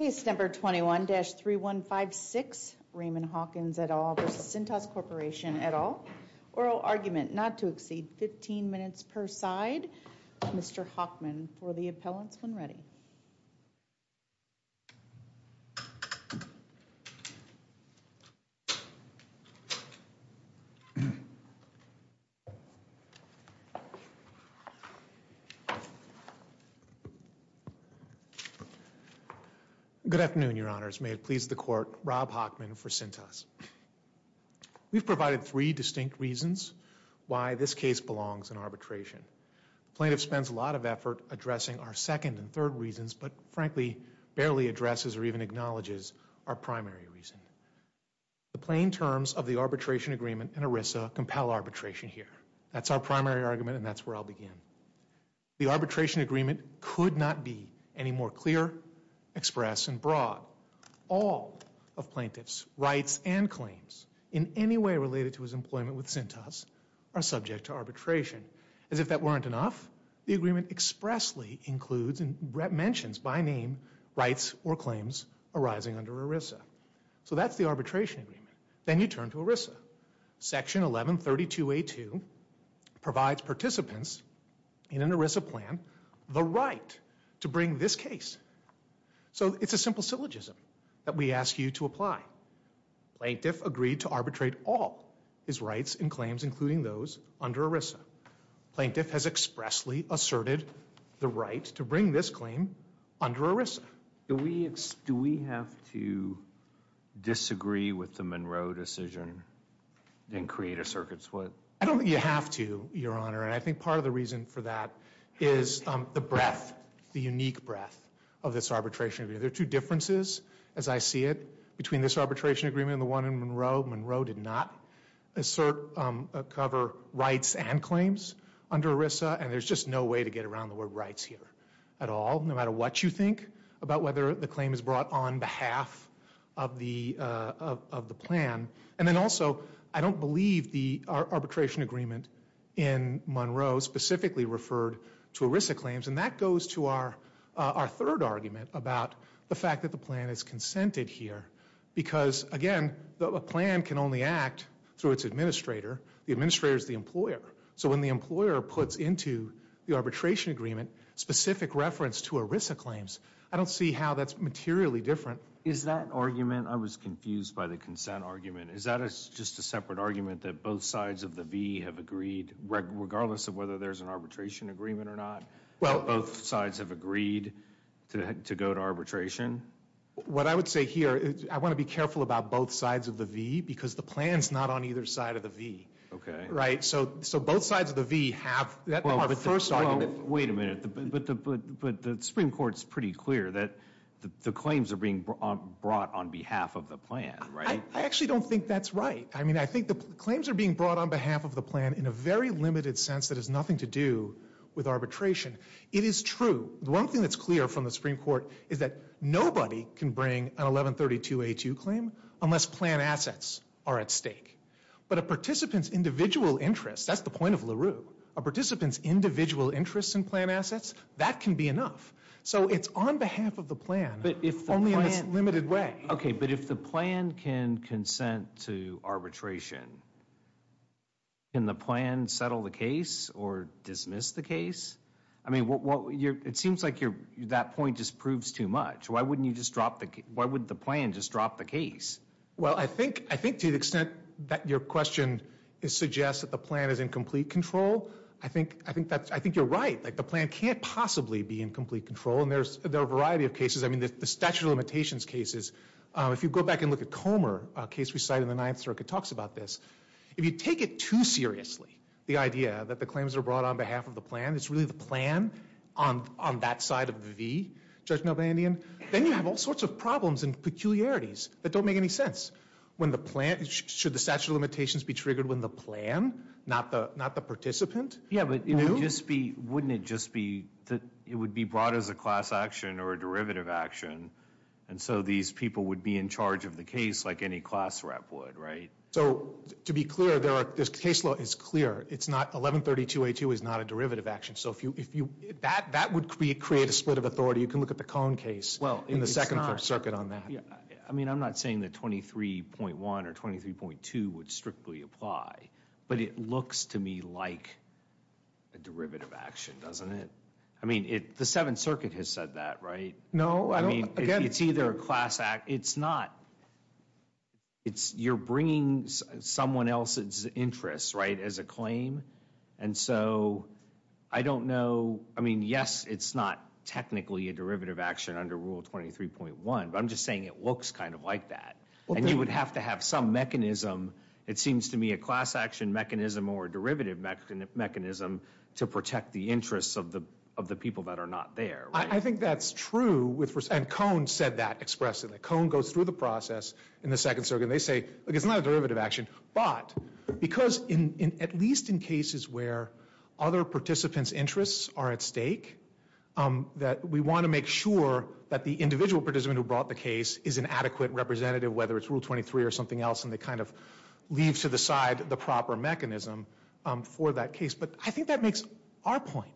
Case number 21-3156, Raymond Hawkins et al. v. Cintas Corporation et al. Oral argument not to exceed 15 minutes per side. Mr. Hockman for the appellants when ready. Good afternoon, your honors. May it please the court, Rob Hockman for Cintas. We've provided three distinct reasons why this case belongs in arbitration. Plaintiff spends a lot of effort addressing our second and third reasons, but frankly, barely addresses or even acknowledges our primary reason. The plain terms of the arbitration agreement and ERISA compel arbitration here. That's our primary argument, and that's where I'll begin. The arbitration agreement could not be any more clear, express, and broad. All of plaintiff's rights and claims in any way related to his employment with Cintas are subject to arbitration. As if that weren't enough, the agreement expressly includes and mentions by name rights or claims arising under ERISA. So that's the arbitration agreement. Then you turn to ERISA. Section 1132A2 provides participants in an ERISA plan the right to bring this case. So it's a simple syllogism that we ask you to apply. Plaintiff agreed to arbitrate all his rights and claims, including those under ERISA. Plaintiff has expressly asserted the right to bring this claim under ERISA. Do we have to disagree with the Monroe decision and create a circuit split? I don't think you have to, Your Honor, and I think part of the reason for that is the breadth, the unique breadth, of this arbitration agreement. There are two differences, as I see it, between this arbitration agreement and the one in Monroe. Monroe did not assert or cover rights and claims under ERISA, and there's just no way to get around the word rights here at all. No matter what you think about whether the claim is brought on behalf of the plan. And then also, I don't believe the arbitration agreement in Monroe specifically referred to ERISA claims, and that goes to our third argument about the fact that the plan is consented here. Because, again, a plan can only act through its administrator. The administrator is the employer. So when the employer puts into the arbitration agreement specific reference to ERISA claims, I don't see how that's materially different. Is that argument, I was confused by the consent argument, is that just a separate argument that both sides of the V have agreed, regardless of whether there's an arbitration agreement or not, both sides have agreed to go to arbitration? What I would say here, I want to be careful about both sides of the V, because the plan's not on either side of the V. So both sides of the V have, that's our first argument. Wait a minute, but the Supreme Court's pretty clear that the claims are being brought on behalf of the plan, right? I actually don't think that's right. I think the claims are being brought on behalf of the plan in a very limited sense that has nothing to do with arbitration. It is true. One thing that's clear from the Supreme Court is that nobody can bring an 1132A2 claim unless plan assets are at stake. But a participant's individual interest, that's the point of LaRue, a participant's individual interest in plan assets, that can be enough. So it's on behalf of the plan, only in this limited way. Okay, but if the plan can consent to arbitration, can the plan settle the case or dismiss the case? I mean, it seems like that point just proves too much. Why wouldn't the plan just drop the case? Well, I think to the extent that your question suggests that the plan is in complete control, I think you're right. The plan can't possibly be in complete control, and there are a variety of cases. I mean, the statute of limitations cases, if you go back and look at Comer, a case we cite in the Ninth Circuit, talks about this. If you take it too seriously, the idea that the claims are brought on behalf of the plan, it's really the plan on that side of the V, Judge Nobandian, then you have all sorts of problems and peculiarities that don't make any sense. Should the statute of limitations be triggered when the plan, not the participant, knew? Yeah, but wouldn't it just be that it would be brought as a class action or a derivative action, and so these people would be in charge of the case like any class rep would, right? So, to be clear, this case law is clear. 1132A2 is not a derivative action. So, that would create a split of authority. You can look at the Kohn case in the Second Circuit on that. I mean, I'm not saying that 23.1 or 23.2 would strictly apply, but it looks to me like a derivative action, doesn't it? I mean, the Seventh Circuit has said that, right? No, I don't. It's either a class act. It's not. You're bringing someone else's interests, right, as a claim. And so, I don't know. I mean, yes, it's not technically a derivative action under Rule 23.1, but I'm just saying it looks kind of like that. And you would have to have some mechanism. It seems to me a class action mechanism or a derivative mechanism to protect the interests of the people that are not there. I think that's true. And Kohn said that expressively. Kohn goes through the process in the Second Circuit. And they say, look, it's not a derivative action. But, because at least in cases where other participants' interests are at stake, that we want to make sure that the individual participant who brought the case is an adequate representative, whether it's Rule 23 or something else, and they kind of leave to the side the proper mechanism for that case. But I think that makes our point.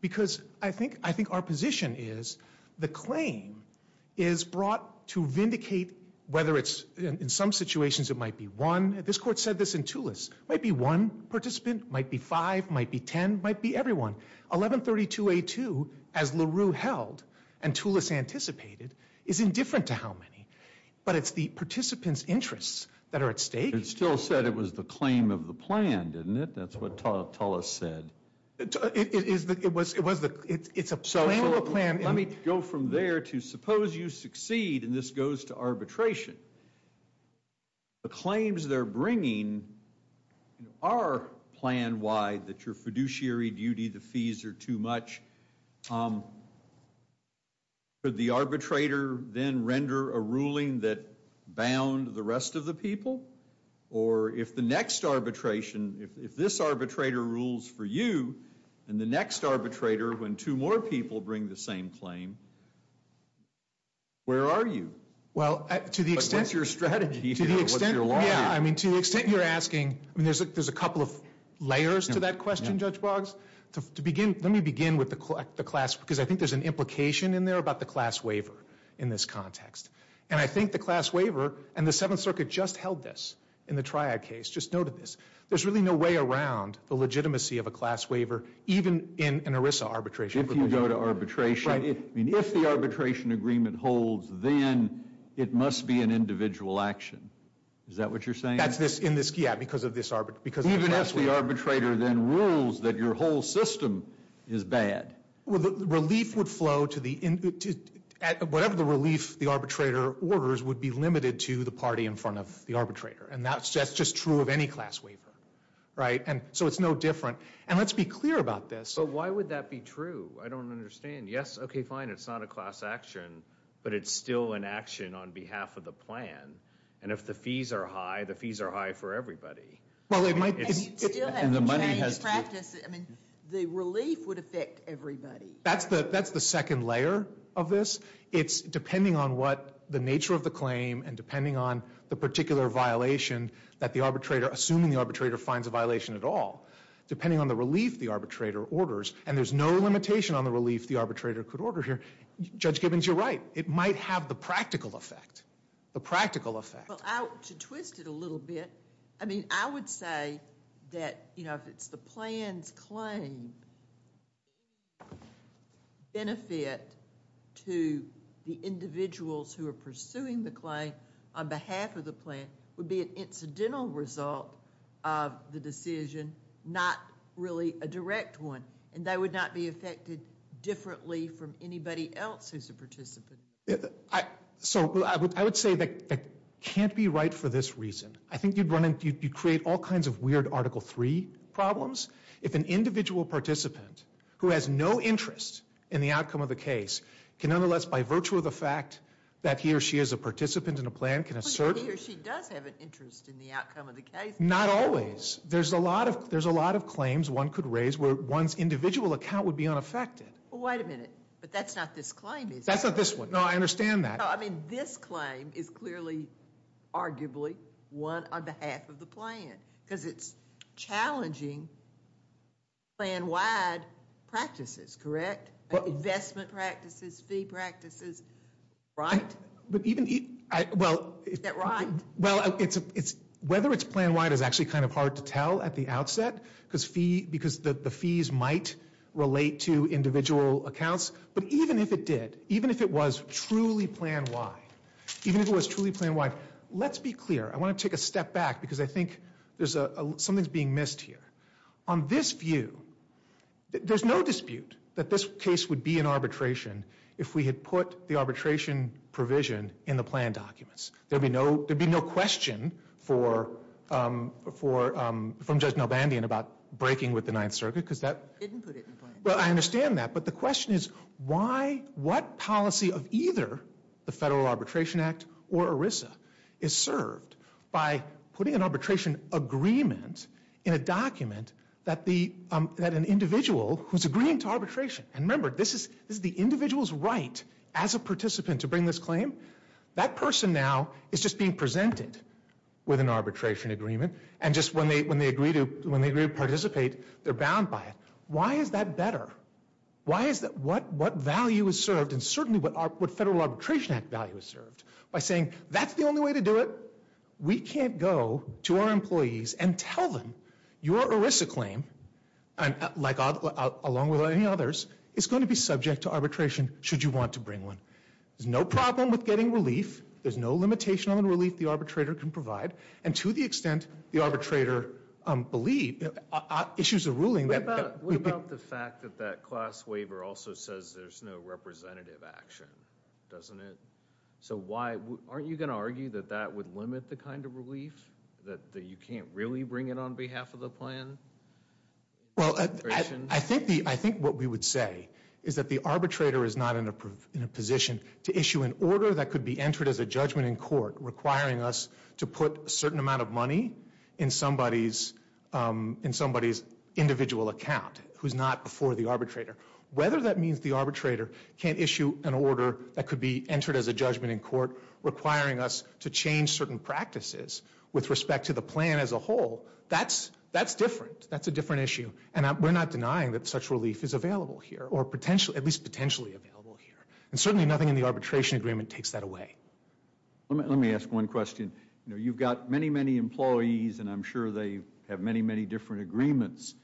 Because I think our position is the claim is brought to vindicate whether it's, in some situations, it might be one. This Court said this in Tulis. It might be one participant. It might be five. It might be ten. It might be everyone. 1132A2, as LaRue held and Tulis anticipated, is indifferent to how many. It still said it was the claim of the plan, didn't it? That's what Tulis said. It's a claim of a plan. Let me go from there to suppose you succeed, and this goes to arbitration. The claims they're bringing are plan-wide, that your fiduciary duty, the fees are too much. Could the arbitrator then render a ruling that bound the rest of the people? Or if the next arbitration, if this arbitrator rules for you, and the next arbitrator, when two more people bring the same claim, where are you? To the extent you're asking, there's a couple of layers to that question, Judge Boggs. Let me begin with the class, because I think there's an implication in there about the class waiver in this context. And I think the class waiver, and the Seventh Circuit just held this in the Triad case, just noted this. There's really no way around the legitimacy of a class waiver, even in an ERISA arbitration. If you go to arbitration, if the arbitration agreement holds, then it must be an individual action. Is that what you're saying? Yeah, because of the class waiver. Even if the arbitrator then rules that your whole system is bad? Whatever the relief the arbitrator orders would be limited to the party in front of the arbitrator. And that's just true of any class waiver. So it's no different. And let's be clear about this. But why would that be true? I don't understand. Yes, okay, fine, it's not a class action, but it's still an action on behalf of the plan. And if the fees are high, the fees are high for everybody. And you still haven't changed practice. I mean, the relief would affect everybody. That's the second layer of this. It's depending on what the nature of the claim, and depending on the particular violation that the arbitrator, assuming the arbitrator finds a violation at all, depending on the relief the arbitrator orders, and there's no limitation on the relief the arbitrator could order here. Judge Gibbons, you're right. It might have the practical effect. The practical effect. Well, to twist it a little bit, I mean, I would say that, you know, if it's the plan's claim, the benefit to the individuals who are pursuing the claim on behalf of the plan would be an incidental result of the decision, not really a direct one. And they would not be affected differently from anybody else who's a participant. So, I would say that can't be right for this reason. I think you'd create all kinds of weird Article III problems if an individual participant who has no interest in the outcome of the case can nonetheless, by virtue of the fact that he or she is a participant in a plan, can assert... But he or she does have an interest in the outcome of the case. Not always. There's a lot of claims one could raise where one's individual account would be unaffected. Well, wait a minute. But that's not this claim, is it? That's not this one. No, I understand that. No, I mean, this claim is clearly, arguably, one on behalf of the plan. Because it's challenging plan-wide practices, correct? Investment practices, fee practices, right? But even... Is that right? Well, whether it's plan-wide is actually kind of hard to tell at the outset, because the fees might relate to individual accounts. But even if it did, even if it was truly plan-wide, even if it was truly plan-wide, let's be clear. I want to take a step back, because I think something's being missed here. On this view, there's no dispute that this case would be in arbitration if we had put the arbitration provision in the plan documents. There'd be no question from Judge Nelbandian about breaking with the Ninth Circuit, because that... He didn't put it in the plan. Well, I understand that. But the question is why, what policy of either the Federal Arbitration Act or ERISA is served by putting an arbitration agreement in a document that an individual who's agreeing to arbitration... And remember, this is the individual's right as a participant to bring this claim. That person now is just being presented with an arbitration agreement. And just when they agree to participate, they're bound by it. Why is that better? What value is served, and certainly what Federal Arbitration Act value is served, by saying that's the only way to do it? We can't go to our employees and tell them your ERISA claim, along with any others, is going to be subject to arbitration should you want to bring one. There's no problem with getting relief. There's no limitation on the relief the arbitrator can provide. And to the extent the arbitrator issues a ruling... What about the fact that that class waiver also says there's no representative action? Doesn't it? So why... Aren't you going to argue that that would limit the kind of relief? That you can't really bring it on behalf of the plan? Well, I think what we would say is that the arbitrator is not in a position to issue an order that could be entered as a judgment in court requiring us to put a certain amount of money in somebody's individual account, who's not before the arbitrator. Whether that means the arbitrator can't issue an order that could be entered as a judgment in court requiring us to change certain practices with respect to the plan as a whole, that's different. That's a different issue. And we're not denying that such relief is available here, or at least potentially available here. And certainly nothing in the arbitration agreement takes that away. Let me ask one question. You've got many, many employees, and I'm sure they have many, many different agreements.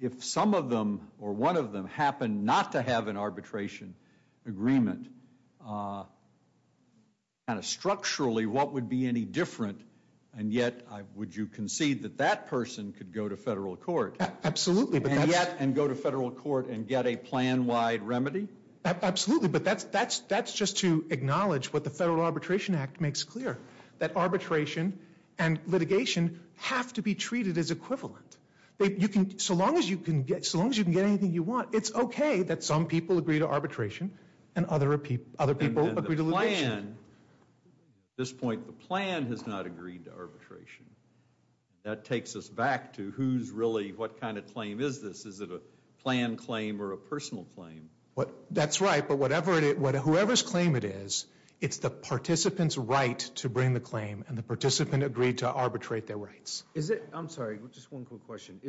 If some of them or one of them happen not to have an arbitration agreement, structurally, what would be any different? And yet, would you concede that that person could go to federal court? Absolutely. And go to federal court and get a plan-wide remedy? Absolutely. But that's just to acknowledge what the Federal Arbitration Act makes clear, that arbitration and litigation have to be treated as equivalent. So long as you can get anything you want, it's okay that some people agree to arbitration and other people agree to litigation. And the plan, at this point, the plan has not agreed to arbitration. That takes us back to who's really, what kind of claim is this? Is it a plan claim or a personal claim? That's right, but whoever's claim it is, it's the participant's right to bring the claim and the participant agreed to arbitrate their rights. I'm sorry, just one quick question.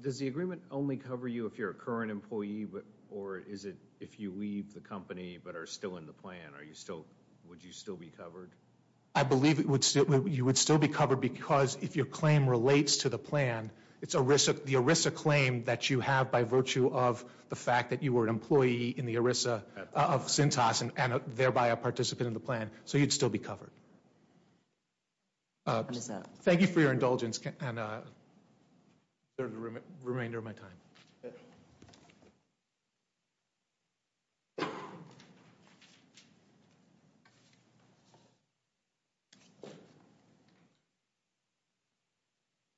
Does the agreement only cover you if you're a current employee or is it if you leave the company but are still in the plan? Would you still be covered? I believe you would still be covered because if your claim relates to the plan, it's the ERISA claim that you have by virtue of the fact that you were an employee in the ERISA of CINTAS and thereby a participant in the plan, so you'd still be covered. Thank you for your indulgence and the remainder of my time.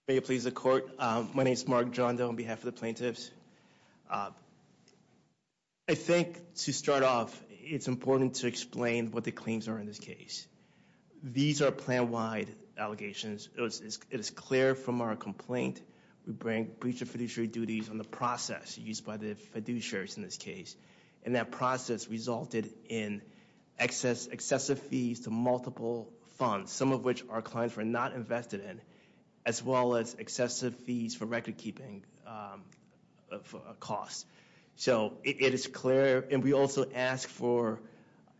May it please the court. My name is Mark Jondo on behalf of the plaintiffs. I think to start off, it's important to explain what the claims are in this case. These are plan-wide allegations. It is clear from our complaint we bring breach of fiduciary duties on the process used by the fiduciaries in this case, and that process resulted in excessive fees to multiple funds, some of which our clients were not invested in, as well as excessive fees for record-keeping costs. So it is clear, and we also ask for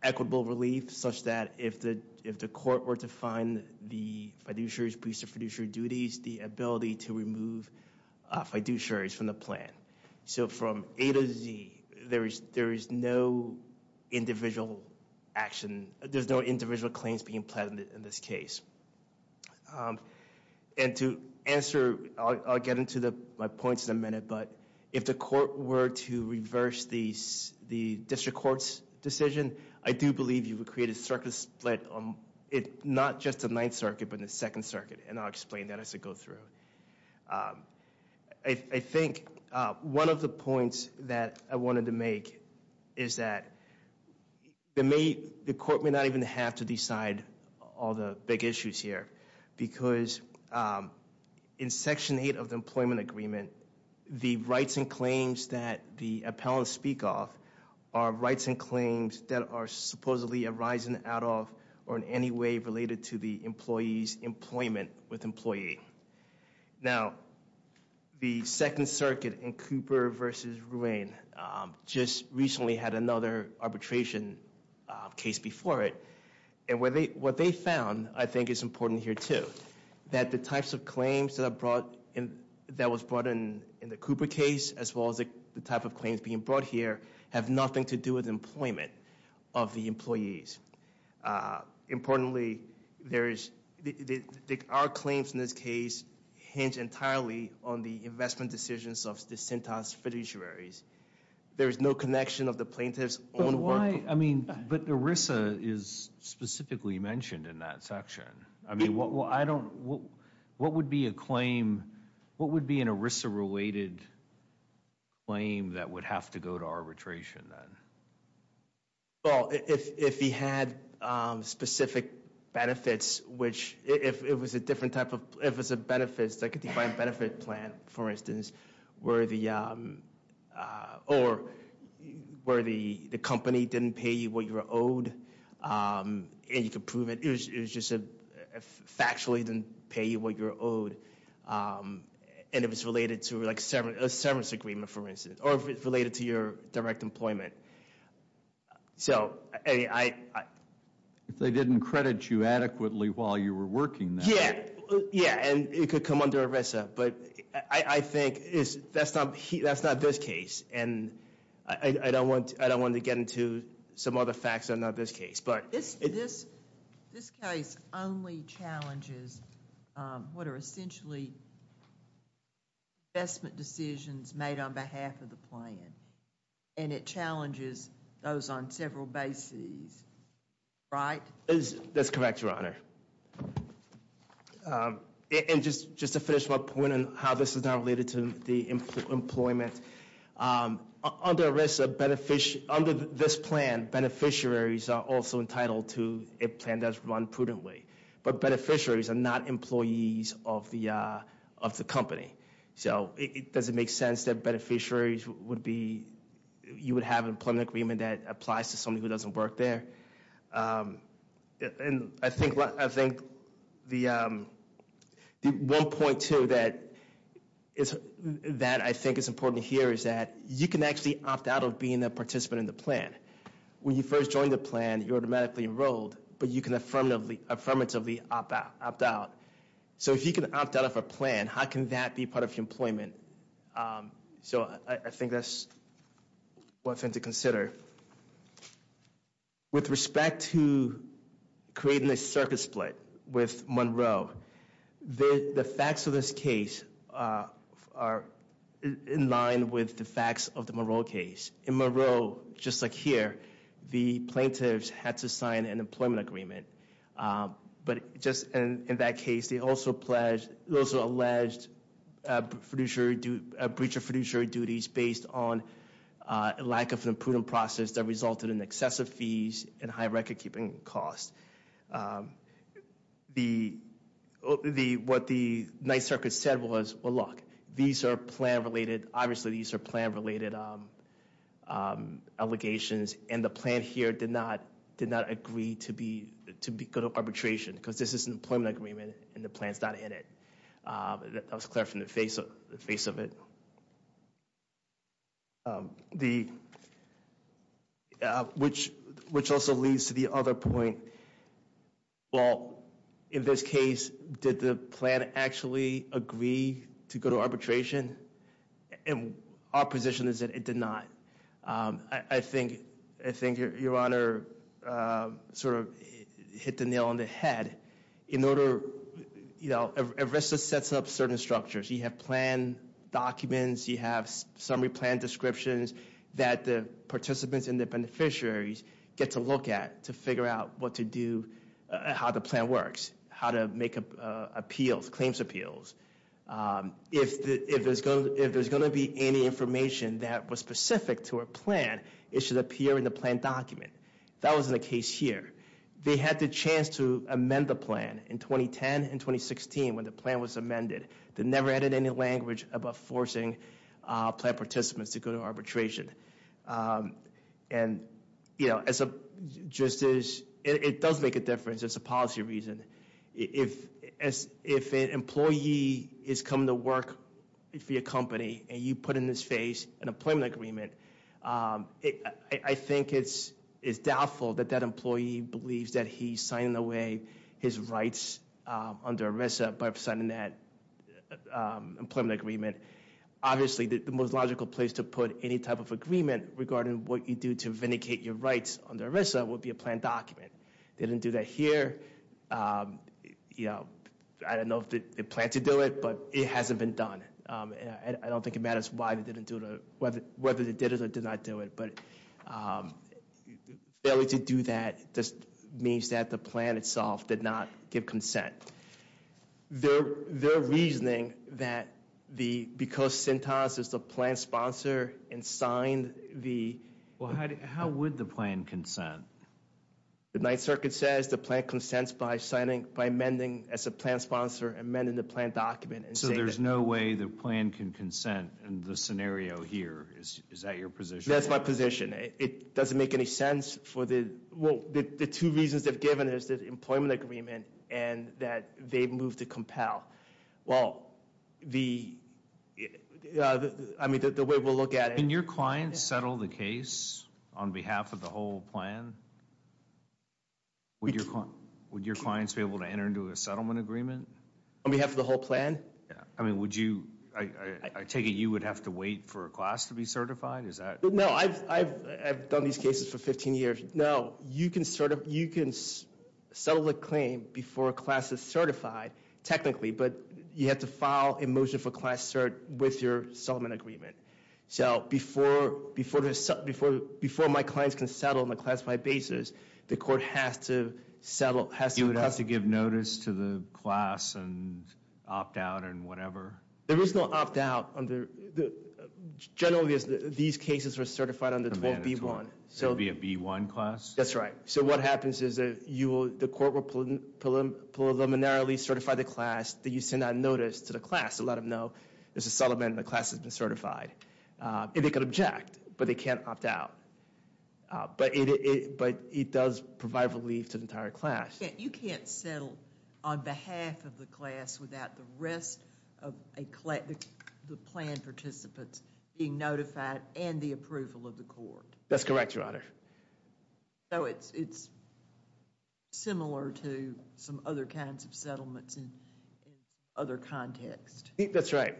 equitable relief such that if the court were to find the fiduciaries breach of fiduciary duties, the ability to remove fiduciaries from the plan. So from A to Z, there is no individual action, there's no individual claims being pledged in this case. And to answer, I'll get into my points in a minute, but if the court were to reverse the district court's decision, I do believe you would create a circuit split, not just the Ninth Circuit, but the Second Circuit, and I'll explain that as I go through. I think one of the points that I wanted to make is that the court may not even have to decide all the big issues here, because in Section 8 of the Employment Agreement, the rights and claims that the appellants speak of are rights and claims that are supposedly arising out of or in any way related to the employee's employment with employee. Now, the Second Circuit in Cooper v. Ruane just recently had another arbitration case before it, and what they found, I think is important here too, that the types of claims that was brought in the Cooper case, as well as the type of claims being brought here, have nothing to do with employment of the employees. Importantly, there is, our claims in this case, hinge entirely on the investment decisions of the Sintas fiduciaries. There is no connection of the plaintiff's own work. But why, I mean, but ERISA is specifically mentioned in that section. I mean, what would be a claim, what would be an ERISA-related claim that would have to go to arbitration then? Well, if he had specific benefits, which if it was a different type of, if it's a benefits, like a defined benefit plan, for instance, where the, or where the company didn't pay you what you were owed, and you could prove it, it was just a, factually didn't pay you what you were owed, and it was related to like a severance agreement, for instance, or if it's related to your direct employment. So, I mean, I... If they didn't credit you adequately while you were working there. Yeah, yeah, and it could come under ERISA, but I think that's not this case, and I don't want to get into some other facts that are not this case. This case only challenges what are essentially investment decisions made on behalf of the plan, and it challenges those on several bases, right? That's correct, Your Honor. And just to finish my point on how this is not related to the employment, under ERISA, beneficiary, under this plan, beneficiaries are also entitled to a plan that's run prudently, but beneficiaries are not employees of the company. So, it doesn't make sense that beneficiaries would be, you would have an employment agreement that applies to somebody who doesn't work there. And I think the, the one point, too, that is, that I think is important here is that you can actually opt out of being a participant in the plan. When you first join the plan, you're automatically enrolled, but you can affirmatively opt out. So, if you can opt out of a plan, how can that be part of your employment? So, I think that's one thing to consider. With respect to creating a circuit split with Monroe, the facts of this case are in line with the facts of the Monroe case. In Monroe, just like here, the plaintiffs had to sign an employment agreement. But just in that case, they also pledged, they also alleged a breach of fiduciary duties based on a lack of an imprudent process that resulted in excessive fees and high record-keeping costs. The, what the Ninth Circuit said was, well, look, these are plan-related, obviously these are plan-related allegations, and the plan here did not agree to go to arbitration, because this is an employment agreement, and the plan's not in it. That was clear from the face of it. The, which also leads to the other point, well, in this case, did the plan actually agree to go to arbitration? And our position is that it did not. I think, I think Your Honor sort of hit the nail on the head. In order, you know, ERISA sets up certain structures. You have plan documents, you have summary plan descriptions that the participants and the beneficiaries get to look at to figure out what to do, how the plan works, how to make appeals, claims appeals. If there's going to be any information that was specific to a plan, it should appear in the plan document. That wasn't the case here. They had the chance to amend the plan in 2010 and 2016 when the plan was amended. They never added any language about forcing plan participants to go to arbitration. And, you know, as a, just as, it does make a difference as a policy reason. If an employee is coming to work for your company and you put in this phase an employment agreement, I think it's doubtful that that employee believes that he's signing away his rights under ERISA by signing that employment agreement. Obviously, the most logical place to put any type of agreement regarding what you do to vindicate your rights under ERISA would be a plan document. They didn't do that here. You know, I don't know if they plan to do it, but it hasn't been done. I don't think it matters why they didn't do it, whether they did it or did not do it, but failing to do that just means that the plan itself did not give consent. Their reasoning that the, because CENTAS is the plan sponsor and signed the... Well, how would the plan consent? The Ninth Circuit says the plan consents by signing, by amending as a plan sponsor, amending the plan document. So there's no way the plan can consent in the scenario here. Is that your position? That's my position. It doesn't make any sense for the, well, and that they've moved to compel. Well, the, I mean, the way we'll look at it... Can your clients settle the case on behalf of the whole plan? Would your clients be able to enter into a settlement agreement? On behalf of the whole plan? I mean, would you, I take it you would have to wait for a class to be certified? Is that... No, I've done these cases for 15 years. No, you can settle a claim before a class is certified, technically, but you have to file a motion for class cert with your settlement agreement. So before my clients can settle on a classified basis, the court has to settle, has to... You would have to give notice to the class and opt out and whatever? There is no opt out on the, generally these cases are certified on the 12B1. So it would be a B1 class? That's right. So what happens is that you will, the court will preliminarily certify the class that you send that notice to the class to let them know there's a settlement and the class has been certified. And they can object, but they can't opt out. But it does provide relief to the entire class. You can't settle on behalf of the class without the rest of the plan participants being notified and the approval of the court. That's correct, Your Honor. So it's similar to some other kinds of settlements in some other context. That's right.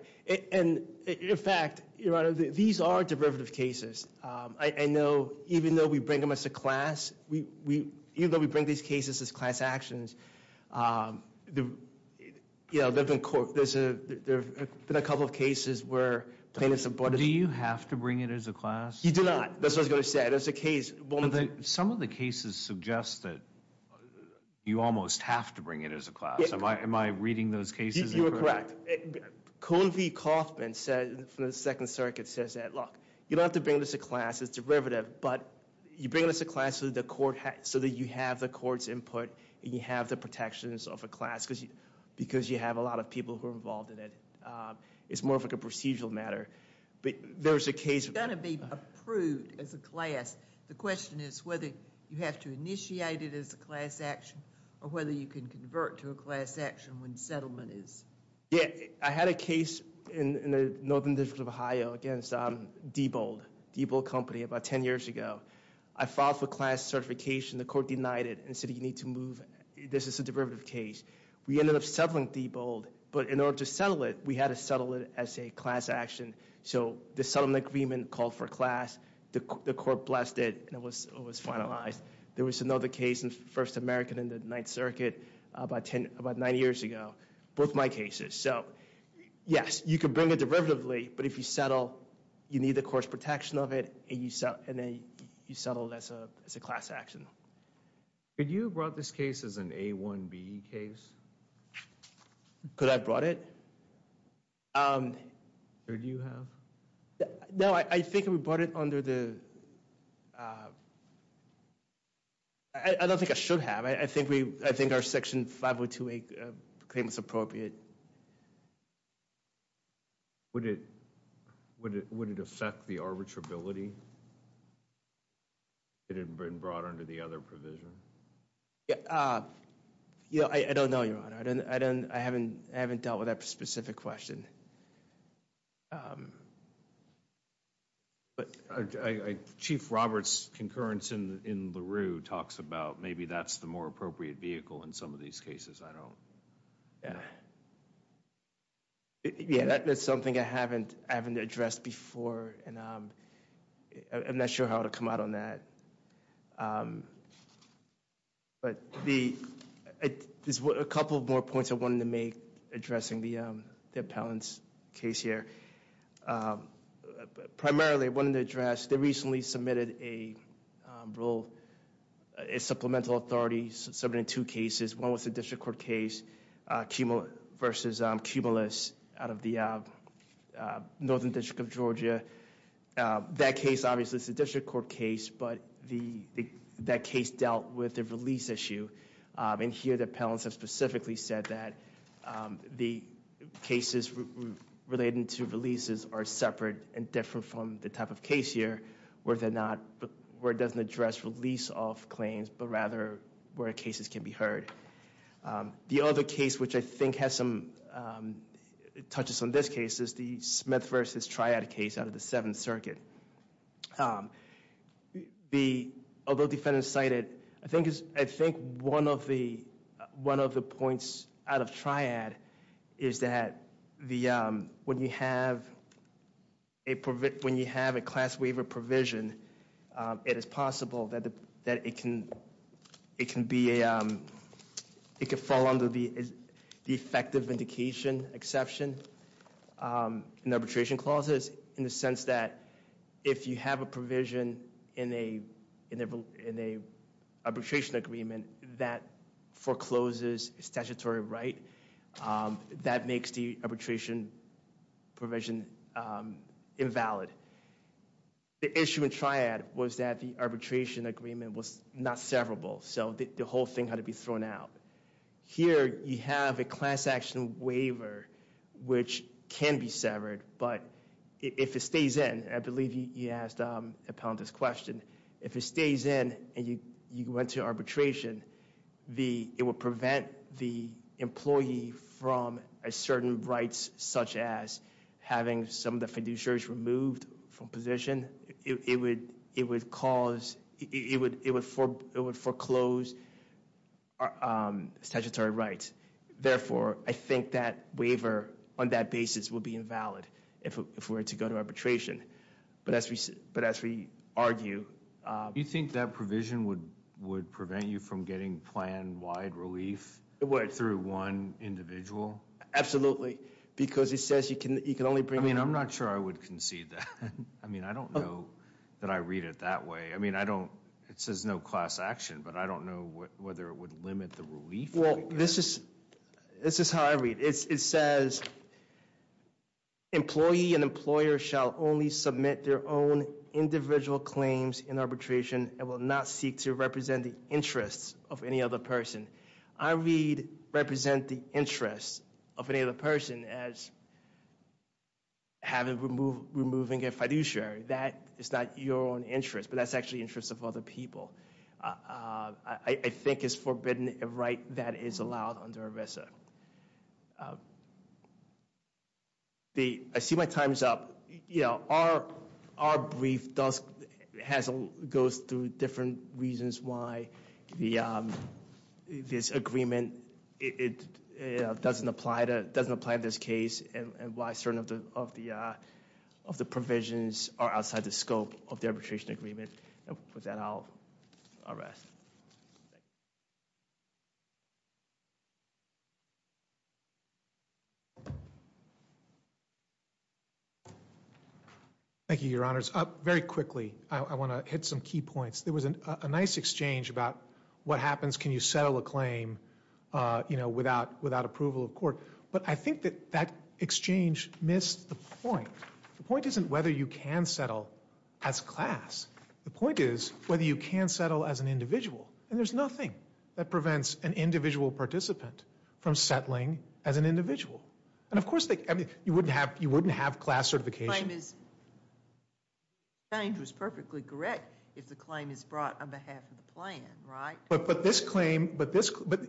And in fact, Your Honor, these are derivative cases. I know even though we bring them as a class, even though we bring these cases as class actions, there have been a couple of cases where plaintiffs... Do you have to bring it as a class? You do not. That's what I was going to say. Some of the cases suggest that you almost have to bring it as a class. Am I reading those cases incorrectly? You are correct. Colvin Kaufman from the Second Circuit says that, look, you don't have to bring this as a class. It's derivative, but you bring it as a class so that you have the court's input and you have the protections of a class because you have a lot of people who are involved in it. It's more of a procedural matter. But there's a case... It's going to be approved as a class. The question is whether you have to initiate it as a class action or whether you can convert to a class action when settlement is... Yeah, I had a case in the Northern District of Ohio against Diebold, Diebold Company, about 10 years ago. I filed for class certification. The court denied it and said, you need to move. This is a derivative case. We ended up settling Diebold, but in order to settle it, we had to settle it as a class action. So the settlement agreement called for class. The court blessed it and it was finalized. There was another case in First American in the Ninth Circuit about nine years ago. Both my cases. So, yes, you can bring it derivatively, but if you settle, you need the court's protection of it and you settle as a class action. Could you have brought this case as an A1B case? Could I have brought it? Could you have? No, I think we brought it under the... I don't think I should have. I think our Section 502A claim is appropriate. Would it affect the arbitrability if it had been brought under the other provision? I don't know, Your Honor. I haven't dealt with that specific question. Chief Roberts' concurrence in LaRue talks about maybe that's the more appropriate vehicle in some of these cases. That's something I haven't addressed before. I'm not sure how to come out on that. There's a couple more points I wanted to make addressing the appellant's case here. Primarily, I wanted to address, they recently submitted a role, a supplemental authority submitted in two cases. One was a district court case versus Cumulus out of the Northern District of Georgia. That case, obviously, is a district court case, but that case dealt with a release issue. Here, the appellants have specifically said that the cases relating to releases are separate and different from the type of case here where it doesn't address release of claims, but rather where cases can be heard. The other case, which I think has some touches on this case, is the Smith v. Triad case out of the Seventh Circuit. Although defendants cited, I think one of the points out of Triad is that when you have a class waiver provision, it is possible that it can be, it can fall under the effective vindication exception in arbitration clauses in the sense that if you have a provision in a arbitration agreement that forecloses statutory right, that makes the arbitration provision invalid. The issue in Triad was that the arbitration agreement was not severable, so the whole thing had to be thrown out. Here, you have a class action waiver, which can be severed, but if it stays in, I believe you asked a pundit's question, if it stays in and you go into arbitration, it will prevent the employee from a certain rights such as having some of the fiduciaries removed from position. It would cause, it would foreclose statutory rights. Therefore, I think that waiver on that basis would be invalid if we were to go to arbitration. But as we argue... Do you think that provision would prevent you from getting plan-wide relief through one individual? Absolutely, because it says you can only bring... I'm not sure I would concede that. I don't know that I read it that way. It says no class action, but I don't know whether it would limit the relief. Well, this is how I read it. It says, employee and employer shall only submit their own individual claims in arbitration and will not seek to represent the interests of any other person. I read represent the interests of any other person as having, removing a fiduciary. That is not your own interest, but that's actually the interest of other people. I think it's forbidden a right that is allowed under ERISA. I see my time's up. Our brief goes through different reasons why this agreement doesn't apply to this case and why certain of the provisions are outside the scope of the arbitration agreement. With that, I'll rest. Thank you, Your Honors. Very quickly, I want to hit some key points. There was a nice exchange about what happens, can you settle a claim without approval of court? But I think that that exchange missed the point. The point isn't whether you can settle as class. The point is whether you can settle as an individual. And there's nothing that prevents an individual participant from settling as an individual. And of course, you wouldn't have class certification. The exchange was perfectly correct if the claim is brought on behalf of the plan, right? But this claim,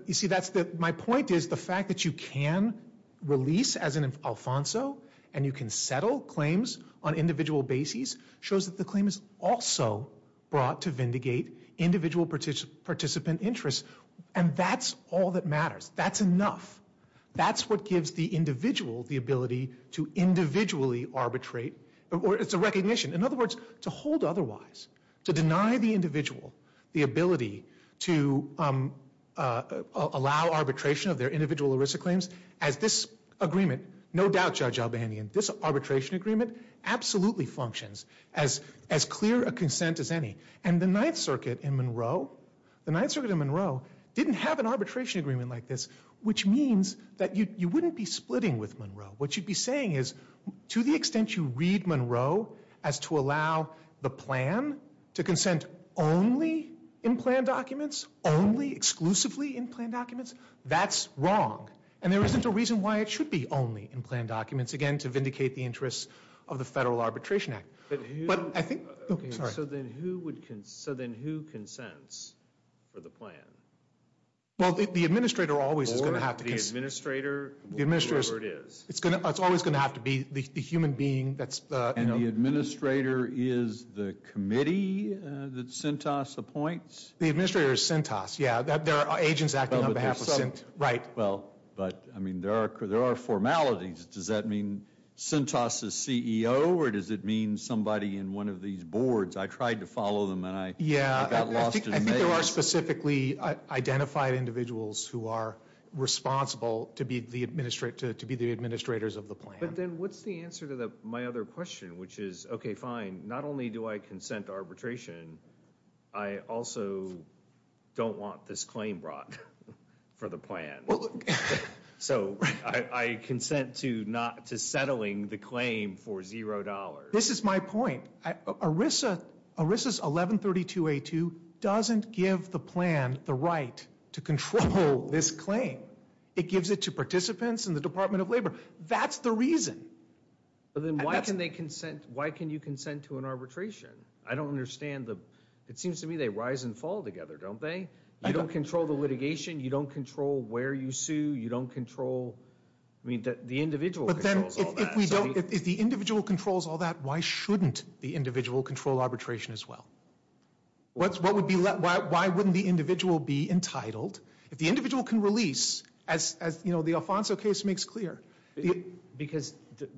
you see, my point is, the fact that you can release as an Alfonso and you can settle claims on individual bases shows that the claim is also brought to vindicate individual participant interests. And that's all that matters. That's enough. That's what gives the individual the ability to individually arbitrate. It's a recognition. In other words, to hold otherwise. To deny the individual the ability to allow arbitration of their individual ERISA claims. As this agreement, no doubt, Judge Albanian, this arbitration agreement absolutely functions as clear a consent as any. And the Ninth Circuit in Monroe, didn't have an arbitration agreement like this, which means that you wouldn't be splitting with Monroe. What you'd be saying is, to the extent you read Monroe as to allow the plan to consent only in plan documents, only exclusively in plan documents, that's wrong. And there isn't a reason why it should be only in plan documents. Again, to vindicate the interests of the Federal Arbitration Act. But I think... Sorry. So then who consents for the plan? Well, the administrator always is going to have to consent. Or the administrator, or whoever it is. It's always going to have to be the human being that's... And the administrator is the committee that CENTAS appoints? The administrator is CENTAS, yeah. There are agents acting on behalf of CENTAS. Right. Well, but, I mean, there are formalities. Does that mean CENTAS is CEO? Or does it mean somebody in one of these boards? I tried to follow them and I got lost in the maze. Yeah, I think there are specifically identified individuals who are responsible to be the administrators of the plan. But then what's the answer to my other question? Which is, okay, fine, not only do I consent arbitration, I also don't want this claim brought for the plan. So I consent to settling the claim for zero dollars. This is my point. ERISA's 1132A2 doesn't give the plan the right to control this claim. It gives it to participants in the Department of Labor. That's the reason. Then why can you consent to an arbitration? I don't understand the... It seems to me they rise and fall together, don't they? You don't control the litigation. You don't control where you sue. You don't control... I mean, the individual controls all that. If the individual controls all that, why shouldn't the individual control arbitration as well? Why wouldn't the individual be entitled? If the individual can release, as the Alfonso case makes clear... Because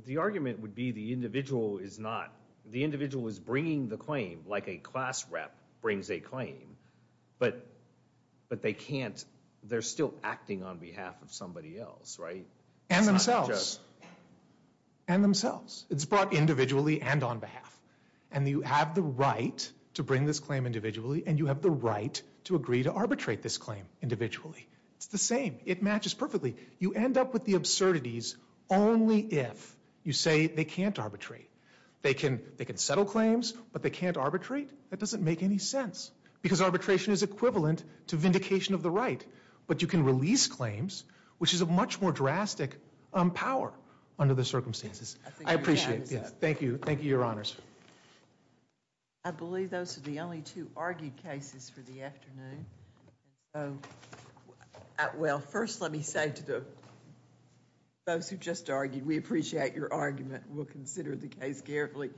the argument would be the individual is not... The individual is bringing the claim like a class rep brings a claim. But they can't... They're still acting on behalf of somebody else, right? And themselves. And themselves. It's brought individually and on behalf. And you have the right to bring this claim individually and you have the right to agree to arbitrate this claim individually. It's the same. It matches perfectly. You end up with the absurdities only if you say they can't arbitrate. They can settle claims, but they can't arbitrate? That doesn't make any sense. Because arbitration is equivalent to vindication of the right. But you can release claims, which is a much more drastic power under the circumstances. I appreciate that. Thank you. Thank you, Your Honors. I believe those are the only two argued cases for the afternoon. First, let me say to those who just argued, we appreciate your argument. We'll consider the case carefully.